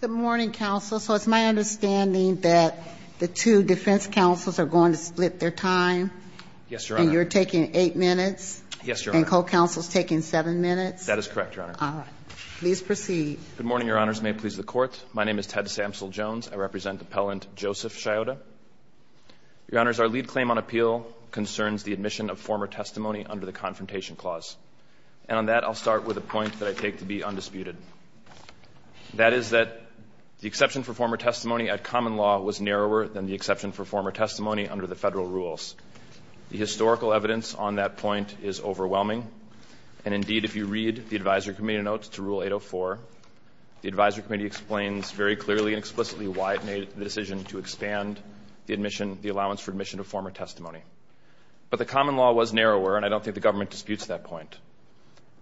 Good morning, counsel. So it's my understanding that the two defense counsels are going to split their time. Yes, Your Honor. And you're taking eight minutes. Yes, Your Honor. And co-counsel's taking seven minutes. That is correct, Your Honor. All right. Please proceed. Good morning, Your Honors. May it please the Court. My name is Ted Samsel-Jones. I represent Appellant Joseph Shayota. Your Honors, our lead claim on appeal concerns the admission of former testimony under the Confrontation Clause. And on that, I'll start with a point that I take to be undisputed. That is that the exception for former testimony at common law was narrower than the exception for former testimony under the Federal rules. The historical evidence on that point is overwhelming. And indeed, if you read the Advisory Committee notes to Rule 804, the Advisory Committee explains very clearly and explicitly why it made the decision to expand the admission, the allowance for admission of former testimony. But the common law was narrower, and I don't think the government disputes that point.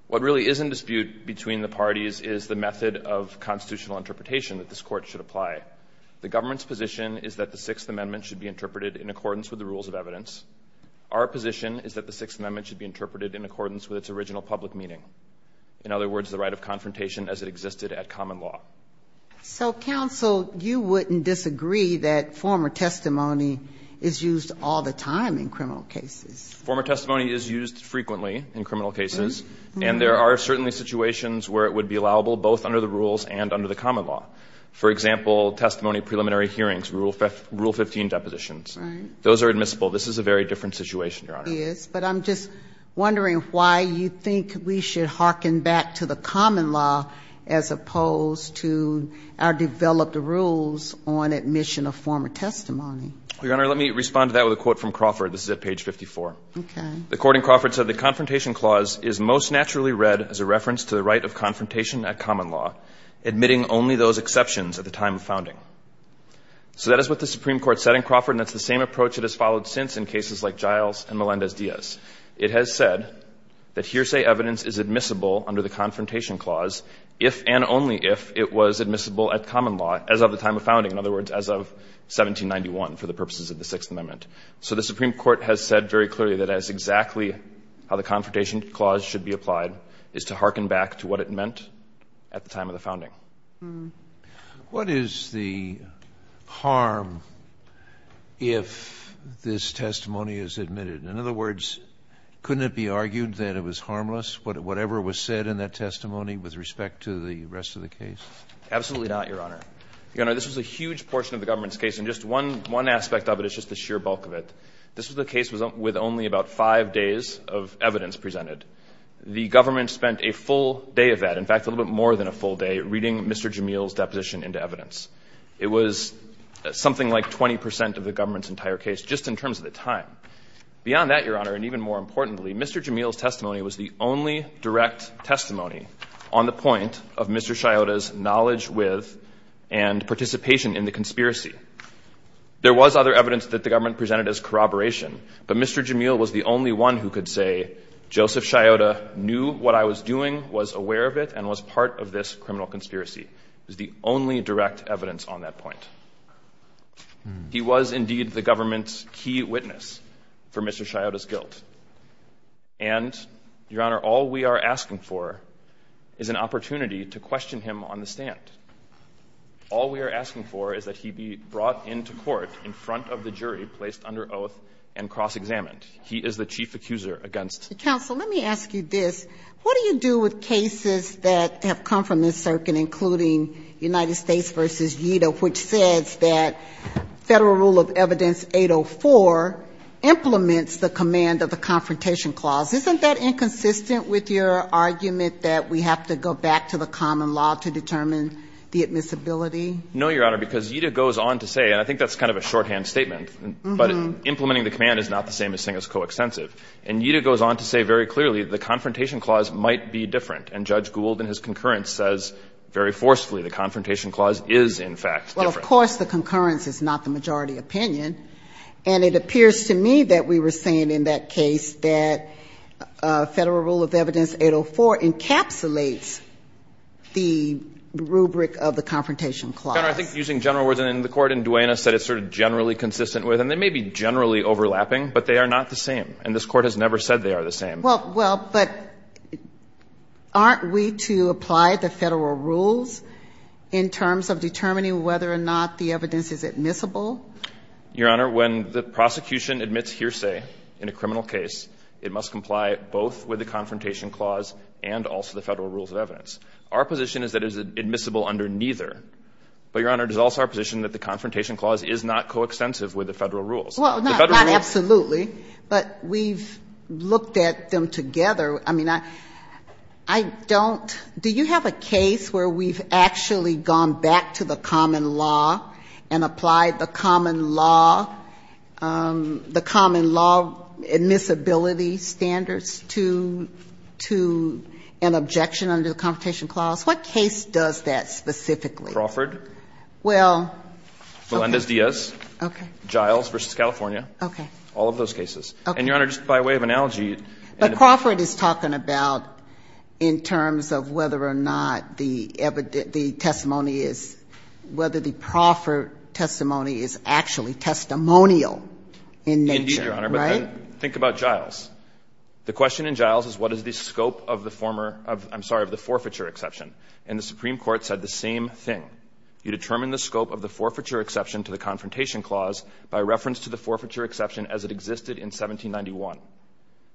What really is in dispute between the parties is the method of constitutional interpretation that this Court should apply. The government's position is that the Sixth Amendment should be interpreted in accordance with the rules of evidence. Our position is that the Sixth Amendment should be interpreted in accordance with its original public meaning, in other words, the right of confrontation as it existed at common law. So, counsel, you wouldn't disagree that former testimony is used all the time in criminal cases? Former testimony is used frequently in criminal cases, and there are certainly situations where it would be allowable both under the rules and under the common law. For example, testimony preliminary hearings, Rule 15 depositions. Those are admissible. This is a very different situation, Your Honor. It is, but I'm just wondering why you think we should hearken back to the common law as opposed to our developed rules on admission of former testimony. Your Honor, let me respond to that with a quote from Crawford. This is at page 54. Okay. The court in Crawford said, The Confrontation Clause is most naturally read as a reference to the right of confrontation at common law, admitting only those exceptions at the time of founding. So that is what the Supreme Court said in Crawford, and that's the same approach it has followed since in cases like Giles and Melendez-Diaz. It has said that hearsay evidence is admissible under the Confrontation Clause if and only if it was admissible at common law as of the time of founding, in other words, as of 1791 for the purposes of the Sixth Amendment. So the Supreme Court has said very clearly that that is exactly how the Confrontation Clause should be applied, is to hearken back to what it meant at the time of the founding. What is the harm if this testimony is admitted? In other words, couldn't it be argued that it was harmless, whatever was said in that testimony, with respect to the rest of the case? Absolutely not, Your Honor. Your Honor, this was a huge portion of the government's case, and just one aspect of it is just the sheer bulk of it. This was a case with only about five days of evidence presented. The government spent a full day of that, in fact, a little bit more than a full day, reading Mr. Jamil's deposition into evidence. It was something like 20 percent of the government's entire case, just in terms of the time. Beyond that, Your Honor, and even more importantly, Mr. Jamil's testimony was the only direct testimony on the point of Mr. Sciotta's knowledge with and participation in the conspiracy. There was other evidence that the government presented as corroboration, but Mr. Jamil was the only one who could say, Joseph Sciotta knew what I was doing, was aware of it, and was part of this criminal conspiracy. It was the only direct evidence on that point. He was, indeed, the government's key witness for Mr. Sciotta's guilt. And, Your Honor, all we are asking for is an opportunity to question him on the stand. All we are asking for is that he be brought into court in front of the jury, placed under oath, and cross-examined. He is the chief accuser against the government. Counsel, let me ask you this. What do you do with cases that have come from this circuit, including United States v. Yeato, which says that Federal Rule of Evidence 804 implements the command of the confrontation clause? Isn't that inconsistent with your argument that we have to go back to the common law to determine the admissibility? No, Your Honor, because Yeato goes on to say, and I think that's kind of a shorthand statement, but implementing the command is not the same as saying it's coextensive. And Yeato goes on to say very clearly the confrontation clause might be different. And Judge Gould, in his concurrence, says very forcefully the confrontation clause is, in fact, different. Well, of course the concurrence is not the majority opinion. And it appears to me that we were saying in that case that Federal Rule of Evidence 804 encapsulates the rubric of the confrontation clause. Your Honor, I think using general words, and the Court in Duena said it's sort of generally consistent with, and they may be generally overlapping, but they are not the same. And this Court has never said they are the same. Well, but aren't we to apply the Federal rules in terms of determining whether or not the evidence is admissible? Your Honor, when the prosecution admits hearsay in a criminal case, it must comply both with the confrontation clause and also the Federal Rules of Evidence. Our position is that it is admissible under neither. But, Your Honor, it is also our position that the confrontation clause is not coextensive with the Federal rules. Well, not absolutely, but we've looked at them together. I mean, I don't do you have a case where we've actually gone back to the common law and applied the common law, the common law admissibility standards? No. But I would like to understand whether the prosecution is to, to an objection under the confrontation clause. What case does that specifically? Crawford. Well, okay. Melendez-Diaz. Okay. Giles v. California. Okay. All of those cases. And, Your Honor, just by way of analogy. But Crawford is talking about in terms of whether or not the testimony is, whether the Crawford testimony is actually testimonial in nature. Indeed, Your Honor, but think about Giles. The question in Giles is what is the scope of the former of, I'm sorry, of the forfeiture exception. And the Supreme Court said the same thing. You determine the scope of the forfeiture exception to the confrontation clause by reference to the forfeiture exception as it existed in 1791.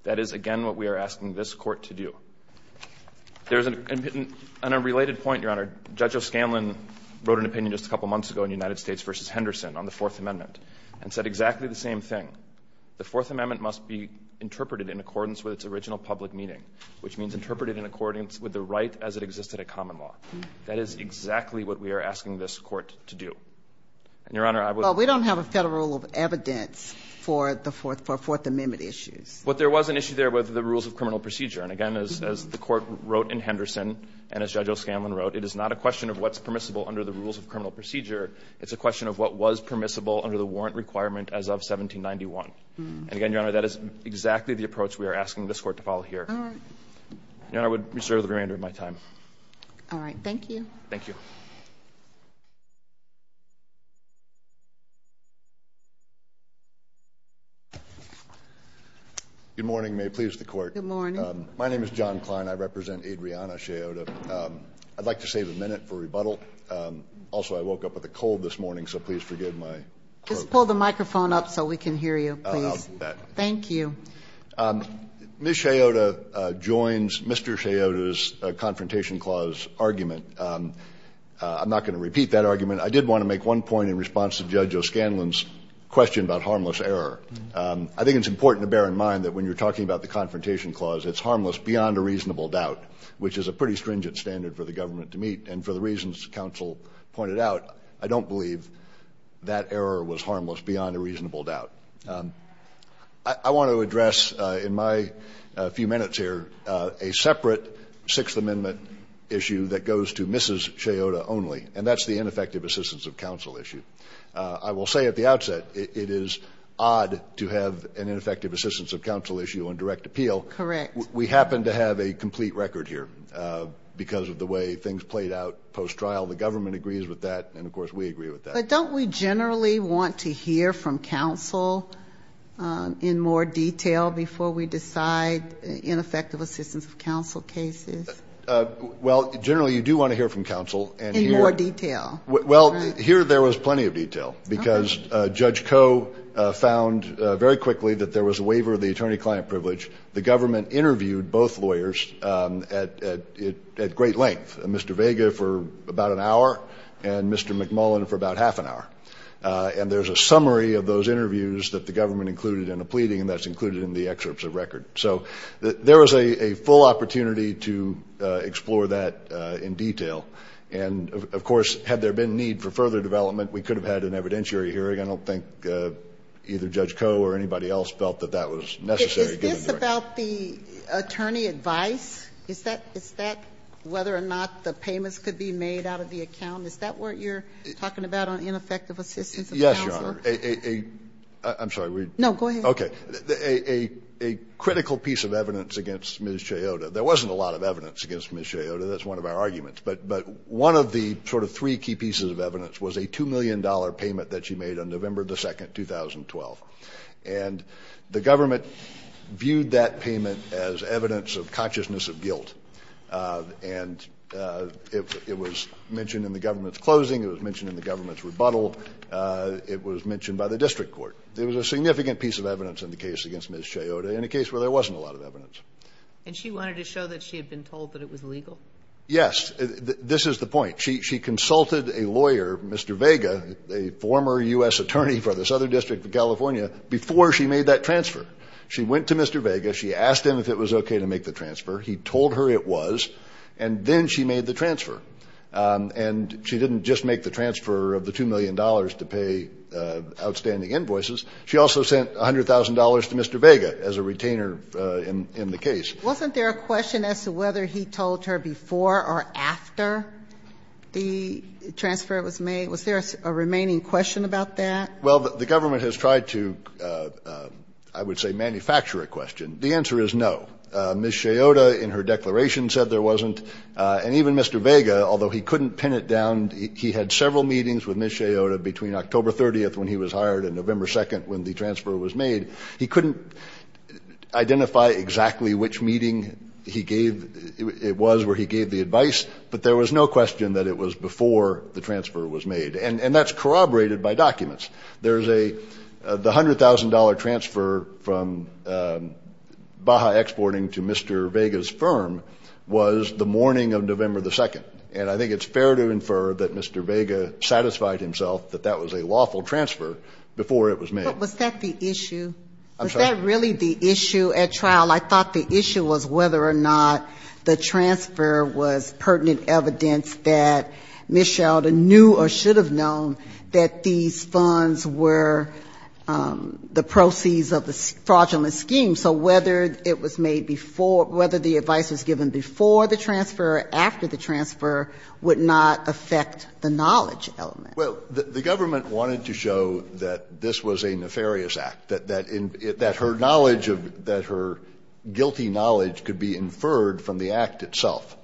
That is, again, what we are asking this Court to do. There's an unrelated point, Your Honor. Judge O'Scanlan wrote an opinion just a couple months ago in United States v. Henderson on the Fourth Amendment and said exactly the same thing. The Fourth Amendment must be interpreted in accordance with its original public meaning, which means interpreted in accordance with the right as it existed at common law. That is exactly what we are asking this Court to do. And, Your Honor, I would not. Well, we don't have a Federal rule of evidence for the Fourth Amendment issues. But there was an issue there with the rules of criminal procedure. And, again, as the Court wrote in Henderson, and as Judge O'Scanlan wrote, it is not a question of what's permissible under the rules of criminal procedure, it's a question of what was permissible under the warrant requirement as of 1791. And, again, Your Honor, that is exactly the approach we are asking this Court to follow here. All right. Your Honor, I would reserve the remainder of my time. All right. Thank you. Thank you. Good morning. May it please the Court. Good morning. My name is John Kline. I represent Adriana Sciotta. I'd like to save a minute for rebuttal. Also, I woke up with a cold this morning, so please forgive my cloak. Just pull the microphone up so we can hear you, please. Thank you. Ms. Sciotta joins Mr. Sciotta's Confrontation Clause argument. I'm not going to repeat that argument. I did want to make one point in response to Judge O'Scanlan's question about harmless error. I think it's important to bear in mind that when you're talking about the Confrontation Clause, it's harmless beyond a reasonable doubt, which is a pretty stringent standard for the government to meet. And for the reasons counsel pointed out, I don't believe that error was harmless beyond a reasonable doubt. I want to address in my few minutes here a separate Sixth Amendment issue that goes to Mrs. Sciotta only, and that's the ineffective assistance of counsel issue. I will say at the outset, it is odd to have an ineffective assistance of counsel issue on direct appeal. We happen to have a complete record here because of the way things played out post-trial. The government agrees with that, and of course we agree with that. But don't we generally want to hear from counsel in more detail before we decide ineffective assistance of counsel cases? Well, generally you do want to hear from counsel. In more detail. Well, here there was plenty of detail because Judge Koh found very quickly that there was a waiver of the attorney-client privilege. The government interviewed both lawyers at great length, Mr. Vega for about an hour and Mr. McMullin for about half an hour. And there's a summary of those interviews that the government included in a pleading that's included in the excerpts of record. So there was a full opportunity to explore that in detail. And of course, had there been need for further development, we could have had an evidentiary hearing. I don't think either Judge Koh or anybody else felt that that was necessary given the Thank you. Yes. Thank you. So, did you hear about the attorney advice? Is that whether or not the payments could be made out of the account? Is that what you're talking about on ineffective assistance of counsel? Yes, Your Honor. I'm sorry. No, go ahead. Okay. A critical piece of evidence against Ms. Cheyotta. There wasn't a lot of evidence against Ms. Cheyotta. That's one of our arguments. made on November 2nd, 2012. And the government viewed that as an evidence that had to be made. And the government viewed that payment as evidence of consciousness of guilt. And it was mentioned in the government's closing. It was mentioned in the government's rebuttal. It was mentioned by the district court. There was a significant piece of evidence in the case against Ms. Cheyotta, and a case where there wasn't a lot of evidence. And she wanted to show that she had been told that it was legal? Yes. This is the point. She consulted a lawyer, Mr. Vega, a former U.S. attorney for the Southern District of California, before she made that transfer. She went to Mr. Vega. She asked him if it was okay to make the transfer. He told her it was, and then she made the transfer. And she didn't just make the transfer of the $2 million to pay outstanding invoices. She also sent $100,000 to Mr. Vega as a retainer in the case. Wasn't there a question as to whether he told her before or after the transfer was made? Was there a remaining question about that? Well, the government has tried to, I would say, manufacture a question. The answer is no. Ms. Cheyotta, in her declaration, said there wasn't. And even Mr. Vega, although he couldn't pin it down, he had several meetings with Ms. Cheyotta between October 30th when he was hired and November 2nd when the transfer was made. He couldn't identify exactly which meeting it was where he gave the advice, but there was no question that it was before the transfer was made. And that's corroborated by documents. The $100,000 transfer from Baja Exporting to Mr. Vega's firm was the morning of November 2nd. And I think it's fair to infer that Mr. Vega satisfied himself that that was a lawful transfer before it was made. But was that the issue? I'm sorry? Was that really the issue at trial? I thought the issue was whether or not the transfer was pertinent evidence that Ms. Cheyotta knew or should have known that these funds were the proceeds of the fraudulent scheme. So whether it was made before or whether the advice was given before the transfer or after the transfer would not affect the knowledge element. Well, the government wanted to show that this was a nefarious act, that her knowledge of the act, that her guilty knowledge could be inferred from the act itself.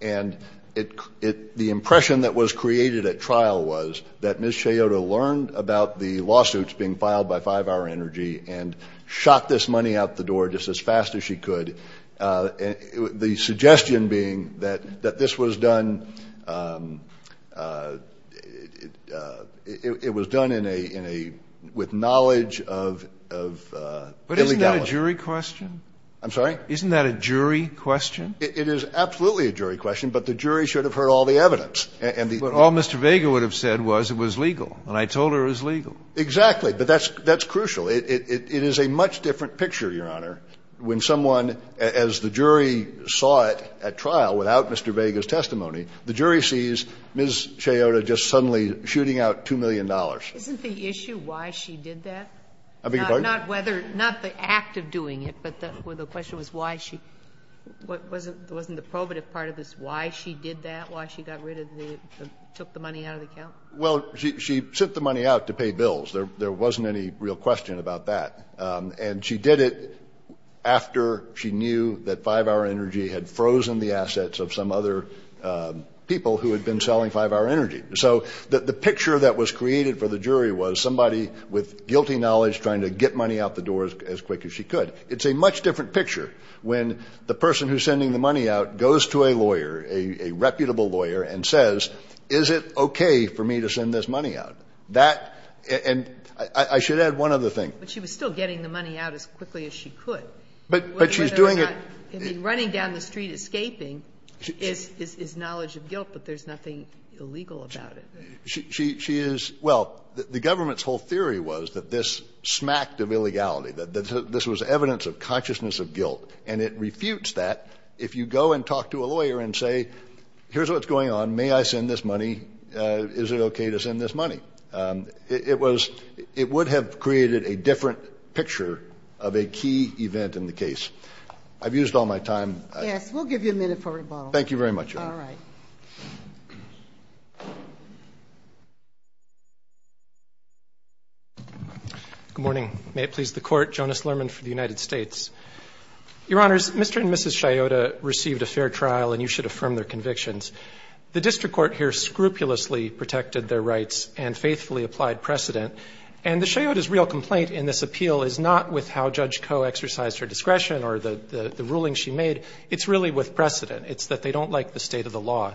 And the impression that was created at trial was that Ms. Cheyotta learned about the lawsuits being filed by 5-Hour Energy and shot this money out the door just as fast as she could, the suggestion being that this was done, it was done in a, with knowledge of Billy Gallagher. But isn't that a jury question? I'm sorry? Isn't that a jury question? It is absolutely a jury question, but the jury should have heard all the evidence. And the ---- But all Mr. Vega would have said was it was legal. And I told her it was legal. Exactly. But that's crucial. It is a much different picture, Your Honor, when someone, as the jury saw it at trial without Mr. Vega's testimony, the jury sees Ms. Cheyotta just suddenly shooting Isn't the issue why she did that? I beg your pardon? Not whether, not the act of doing it, but the question was why she, wasn't the probative part of this why she did that, why she got rid of the, took the money out of the account? Well, she sent the money out to pay bills. There wasn't any real question about that. And she did it after she knew that 5-Hour Energy had frozen the assets of some other people who had been selling 5-Hour Energy. So the picture that was created for the jury was somebody with guilty knowledge trying to get money out the door as quick as she could. It's a much different picture when the person who's sending the money out goes to a lawyer, a reputable lawyer, and says, is it okay for me to send this money out? That, and I should add one other thing. But she was still getting the money out as quickly as she could. But she's doing it. Running down the street escaping is knowledge of guilt, but there's nothing illegal about it. She is, well, the government's whole theory was that this smacked of illegality, that this was evidence of consciousness of guilt. And it refutes that if you go and talk to a lawyer and say, here's what's going on. May I send this money? Is it okay to send this money? It was, it would have created a different picture of a key event in the case. I've used all my time. Yes, we'll give you a minute for rebuttal. Thank you very much, Your Honor. All right. Good morning. May it please the Court. Jonas Lerman for the United States. Your Honors, Mr. and Mrs. Sciotta received a fair trial, and you should affirm their convictions. The district court here scrupulously protected their rights and faithfully applied precedent. And the Sciotta's real complaint in this appeal is not with how Judge Koh exercised her discretion or the ruling she made. It's really with precedent. It's that they don't like the state of the law.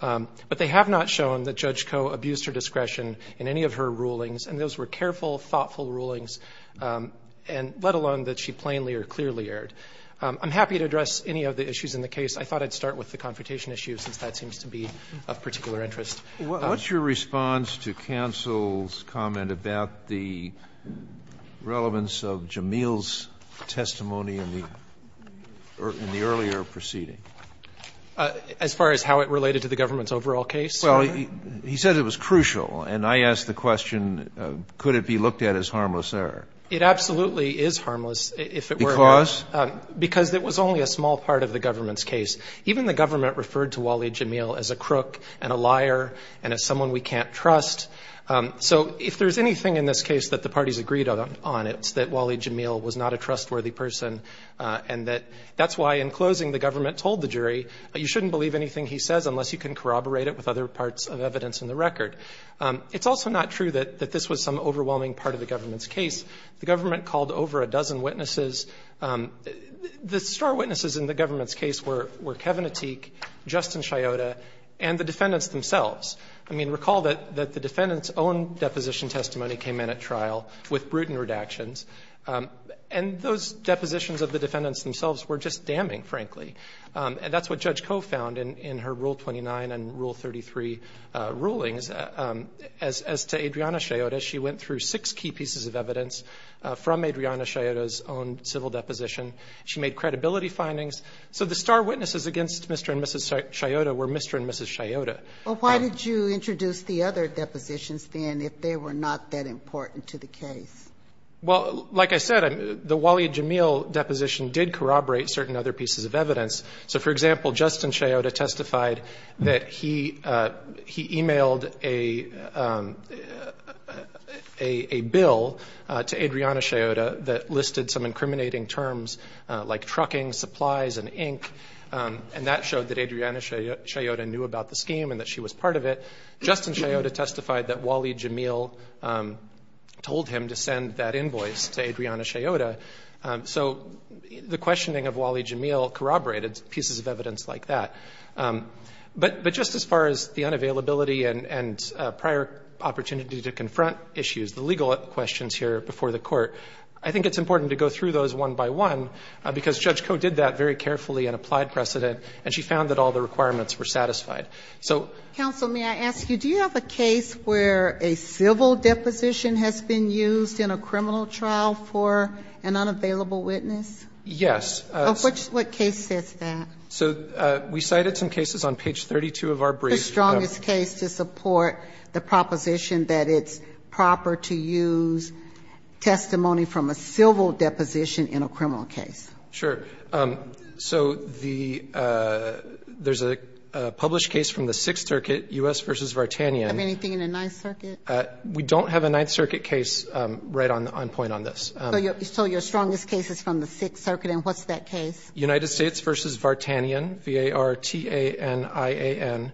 But they have not shown that Judge Koh abused her discretion in any of her rulings, and those were careful, thoughtful rulings, and let alone that she plainly or clearly erred. I'm happy to address any of the issues in the case. I thought I'd start with the confrontation issue since that seems to be of particular interest. What's your response to counsel's comment about the relevance of Jameel's testimony in the earlier proceeding? As far as how it related to the government's overall case? Well, he said it was crucial. And I asked the question, could it be looked at as harmless error? It absolutely is harmless if it were. Because? Because it was only a small part of the government's case. Even the government referred to Waleed Jameel as a crook and a liar and as someone we can't trust. So if there's anything in this case that the parties agreed on, it's that Waleed Jameel was not a trustworthy person and that that's why in closing the government told the jury, you shouldn't believe anything he says unless you can corroborate it with other parts of evidence in the record. It's also not true that this was some overwhelming part of the government's case. The government called over a dozen witnesses. The star witnesses in the government's case were Kevin Ateek, Justin Sciotta, and the defendants themselves. I mean, recall that the defendants' own deposition testimony came in at trial with Bruton redactions. And those depositions of the defendants themselves were just damning, frankly. And that's what Judge Koh found in her Rule 29 and Rule 33 rulings. As to Adriana Sciotta, she went through six key pieces of evidence from Adriana Sciotta's own civil deposition. She made credibility findings. So the star witnesses against Mr. and Mrs. Sciotta were Mr. and Mrs. Sciotta. But why did you introduce the other depositions, then, if they were not that important to the case? Well, like I said, the Waleed Jameel deposition did corroborate certain other pieces of evidence. So, for example, Justin Sciotta testified that he emailed a bill to Adriana Sciotta that listed some incriminating terms like trucking, supplies, and ink. And that showed that Adriana Sciotta knew about the scheme and that she was part of it. Justin Sciotta testified that Waleed Jameel told him to send that invoice to Adriana Sciotta. So the questioning of Waleed Jameel corroborated pieces of evidence like that. But just as far as the unavailability and prior opportunity to confront issues, the legal questions here before the Court, I think it's important to go through those one by one, because Judge Koh did that very carefully and applied precedent and she found that all the requirements were satisfied. So ‑‑ Counsel, may I ask you, do you have a case where a civil deposition has been used in a criminal trial for an unavailable witness? Yes. What case says that? So we cited some cases on page 32 of our brief. The strongest case to support the proposition that it's proper to use testimony from a civil deposition in a criminal case. Sure. So the ‑‑ there's a published case from the Sixth Circuit, U.S. v. Vartanian. Have anything in the Ninth Circuit? We don't have a Ninth Circuit case right on point on this. So your strongest case is from the Sixth Circuit, and what's that case? United States v. Vartanian, V-A-R-T-A-N-I-A-N.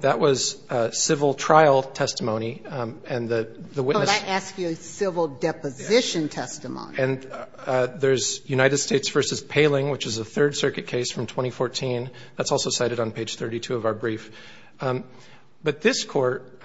That was civil trial testimony, and the witness ‑‑ But I asked you civil deposition testimony. And there's United States v. Paling, which is a Third Circuit case from 2014. That's also cited on page 32 of our brief. But this Court,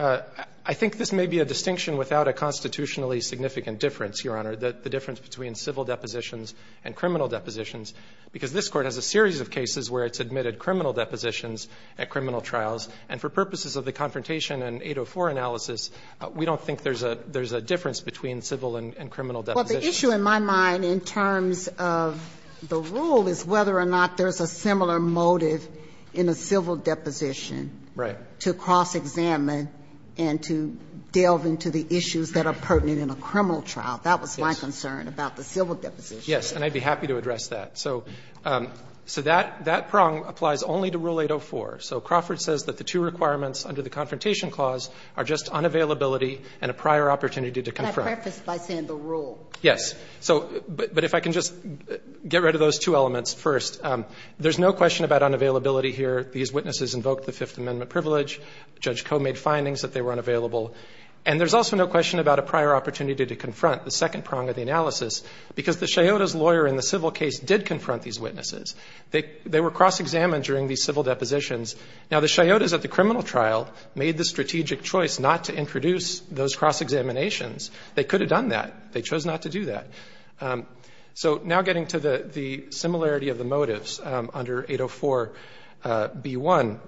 I think this may be a distinction without a constitutionally significant difference, Your Honor, the difference between civil depositions and criminal depositions, because this Court has a series of cases where it's admitted criminal depositions at criminal trials. And for purposes of the confrontation and 804 analysis, we don't think there's a difference between civil and criminal depositions. Well, the issue in my mind in terms of the rule is whether or not there's a similar motive in a civil deposition to cross-examine and to delve into the issues that are pertinent in a criminal trial. That was my concern about the civil deposition. Yes. And I'd be happy to address that. So that prong applies only to Rule 804. So Crawford says that the two requirements under the Confrontation Clause are just unavailability and a prior opportunity to confront. By saying the rule. Yes. But if I can just get rid of those two elements first. There's no question about unavailability here. These witnesses invoked the Fifth Amendment privilege. Judge Koh made findings that they were unavailable. And there's also no question about a prior opportunity to confront, the second prong of the analysis, because the chiotas lawyer in the civil case did confront these witnesses. They were cross-examined during these civil depositions. Now, the chiotas at the criminal trial made the strategic choice not to introduce those cross-examinations. They could have done that. They chose not to do that. So now getting to the similarity of the motives under 804b1,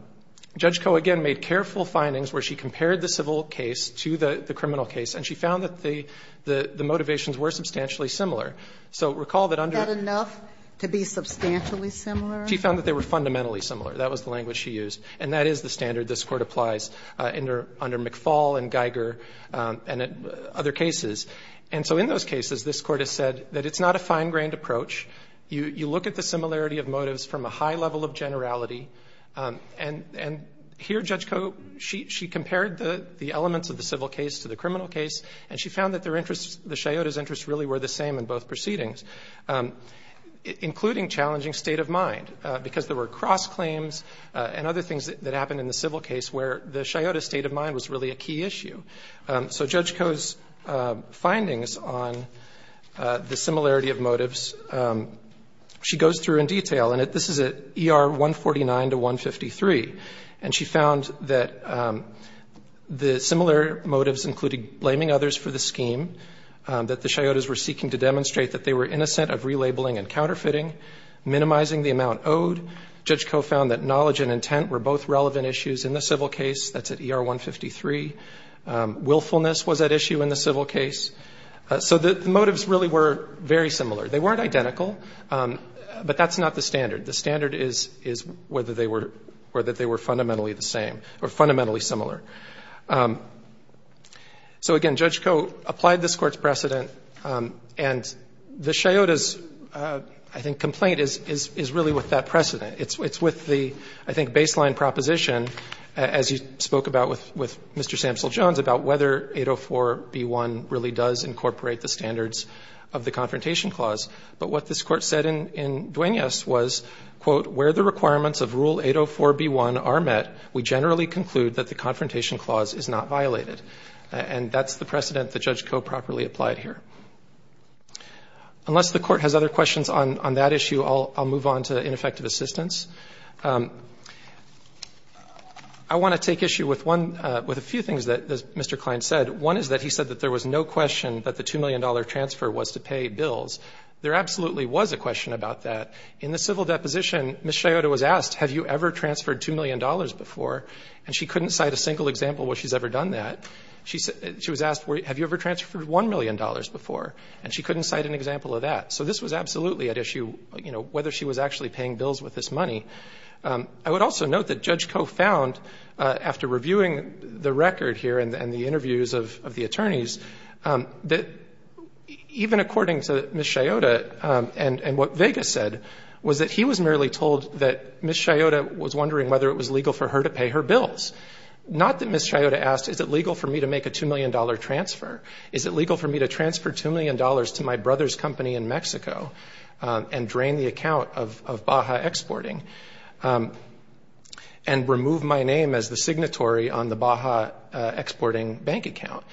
Judge Koh again made careful findings where she compared the civil case to the criminal case, and she found that the motivations were substantially similar. So recall that under the. Is that enough to be substantially similar? She found that they were fundamentally similar. That was the language she used. And that is the standard this Court applies under McFaul and Geiger and other cases. And so in those cases, this Court has said that it's not a fine-grained approach. You look at the similarity of motives from a high level of generality. And here, Judge Koh, she compared the elements of the civil case to the criminal case, and she found that their interests, the chiotas' interests really were the same in both proceedings, including challenging state of mind, because there were cross-claims and other things that happened in the civil case where the chiotas' state of mind was really a key issue. So Judge Koh's findings on the similarity of motives, she goes through in detail. And this is at ER 149 to 153. And she found that the similar motives included blaming others for the scheme, that the chiotas were seeking to demonstrate that they were innocent of relabeling and counterfeiting, minimizing the amount owed. Judge Koh found that knowledge and intent were both relevant issues in the civil case, that's at ER 153. Willfulness was at issue in the civil case. So the motives really were very similar. They weren't identical, but that's not the standard. The standard is whether they were fundamentally the same or fundamentally similar. So again, Judge Koh applied this Court's precedent, and the chiotas, I think, complaint is really with that precedent. It's with the, I think, baseline proposition, as you spoke about with Mr. Samsell Jones, about whether 804b1 really does incorporate the standards of the Confrontation Clause. But what this Court said in Duenas was, quote, where the requirements of Rule 804b1 are met, we generally conclude that the Confrontation Clause is not violated. And that's the precedent that Judge Koh properly applied here. Unless the Court has other questions on that issue, I'll move on to ineffective assistance. I want to take issue with one, with a few things that Mr. Klein said. One is that he said that there was no question that the $2 million transfer was to pay bills. There absolutely was a question about that. In the civil deposition, Ms. Chiota was asked, have you ever transferred $2 million before? And she couldn't cite a single example where she's ever done that. She was asked, have you ever transferred $1 million before? And she couldn't cite an example of that. So this was absolutely at issue, you know, whether she was actually paying bills with this money. I would also note that Judge Koh found, after reviewing the record here and the interviews of the attorneys, that even according to Ms. Chiota and what Vegas said, was that he was merely told that Ms. Chiota was wondering whether it was legal for her to pay her bills. Not that Ms. Chiota asked, is it legal for me to make a $2 million transfer? Is it legal for me to transfer $2 million to my brother's company in Mexico and drain the account of Baja Exporting and remove my name as the signatory on the Baja Exporting bank account?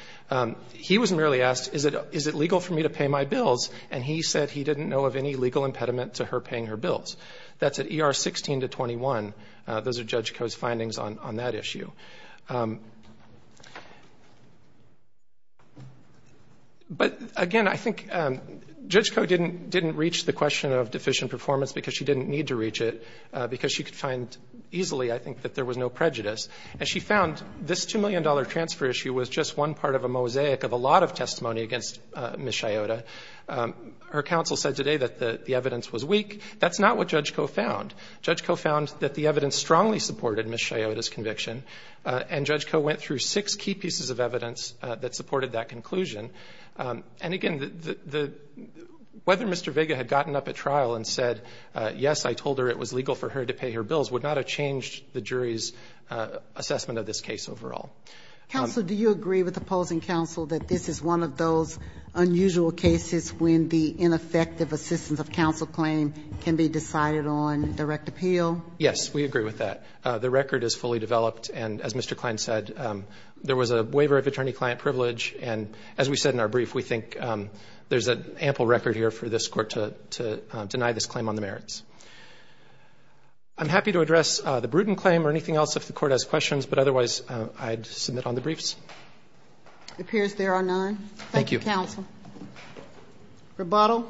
He was merely asked, is it legal for me to pay my bills? And he said he didn't know of any legal impediment to her paying her bills. That's at ER 16 to 21. Those are Judge Koh's findings on that issue. But, again, I think Judge Koh didn't reach the question of deficient performance because she didn't need to reach it, because she could find easily, I think, that there was no prejudice. And she found this $2 million transfer issue was just one part of a mosaic of a lot of testimony against Ms. Chiota. Her counsel said today that the evidence was weak. That's not what Judge Koh found. Judge Koh found that the evidence strongly supported Ms. Chiota's conviction. And Judge Koh went through six key pieces of evidence that supported that conclusion. And, again, whether Mr. Vega had gotten up at trial and said, yes, I told her it was legal for her to pay her bills would not have changed the jury's assessment of this case overall. Counsel, do you agree with opposing counsel that this is one of those unusual cases when the ineffective assistance of counsel claim can be decided on direct appeal? Yes, we agree with that. The record is fully developed. And, as Mr. Klein said, there was a waiver of attorney-client privilege. And, as we said in our brief, we think there's an ample record here for this court to deny this claim on the merits. I'm happy to address the Bruton claim or anything else if the court has questions. But, otherwise, I'd submit on the briefs. It appears there are none. Thank you, counsel. Roboto.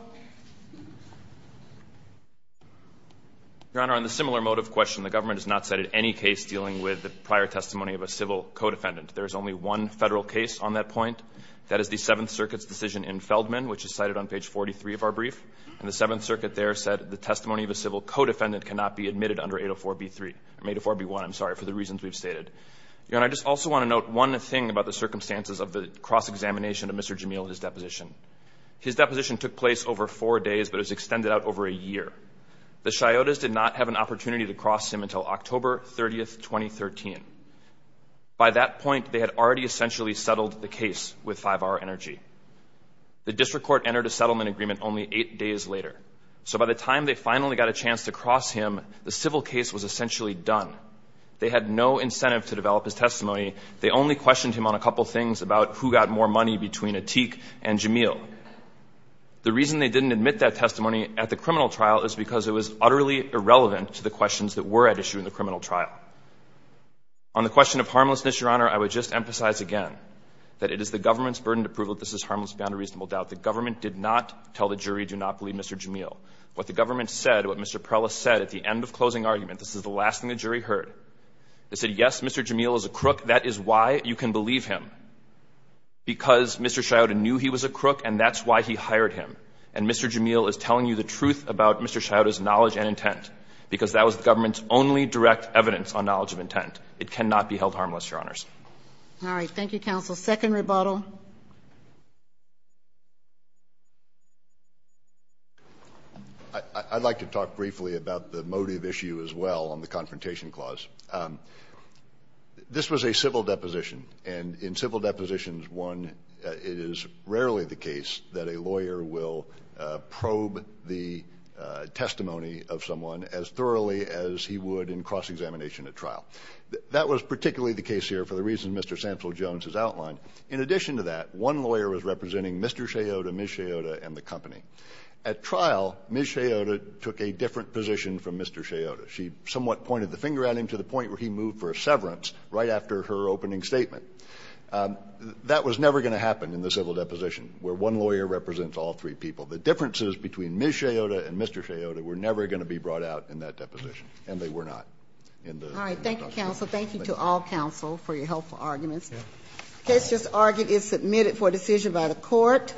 Your Honor, on the similar motive question, the government has not cited any case dealing with the prior testimony of a civil co-defendant. There is only one Federal case on that point. That is the Seventh Circuit's decision in Feldman, which is cited on page 43 of our brief. And the Seventh Circuit there said the testimony of a civil co-defendant cannot be admitted under 804b3 or 804b1, I'm sorry, for the reasons we've stated. Your Honor, I just also want to note one thing about the circumstances of the cross-examination of Mr. Jamil and his deposition. His deposition took place over four days, but it was extended out over a year. The Chiotas did not have an opportunity to cross him until October 30, 2013. By that point, they had already essentially settled the case with 5R Energy. The district court entered a settlement agreement only eight days later. So by the time they finally got a chance to cross him, the civil case was essentially done. They had no incentive to develop his testimony. They only questioned him on a couple of things about who got more money between Atik and Jamil. The reason they didn't admit that testimony at the criminal trial is because it was utterly irrelevant to the questions that were at issue in the criminal trial. On the question of harmlessness, Your Honor, I would just emphasize again that it is the government's burden to prove that this is harmless beyond a reasonable doubt. The government did not tell the jury, do not believe Mr. Jamil. What the government said, what Mr. Prelis said at the end of closing argument This is the last thing the jury heard. They said, yes, Mr. Jamil is a crook. That is why you can believe him, because Mr. Chiota knew he was a crook and that's why he hired him. And Mr. Jamil is telling you the truth about Mr. Chiota's knowledge and intent, because that was the government's only direct evidence on knowledge of intent. It cannot be held harmless, Your Honors. All right. Thank you, counsel. Second rebuttal. Your Honor. I'd like to talk briefly about the motive issue as well on the confrontation clause. This was a civil deposition, and in civil depositions, one, it is rarely the case that a lawyer will probe the testimony of someone as thoroughly as he would in cross-examination at trial. That was particularly the case here for the reason Mr. Sample-Jones has outlined. In addition to that, one lawyer was representing Mr. Chiota, Ms. Chiota, and the company. At trial, Ms. Chiota took a different position from Mr. Chiota. She somewhat pointed the finger at him to the point where he moved for a severance right after her opening statement. That was never going to happen in the civil deposition, where one lawyer represents all three people. The differences between Ms. Chiota and Mr. Chiota were never going to be brought out in that deposition, and they were not. All right. Thank you, counsel. Thank you to all counsel for your helpful arguments. The case just argued is submitted for decision by the court.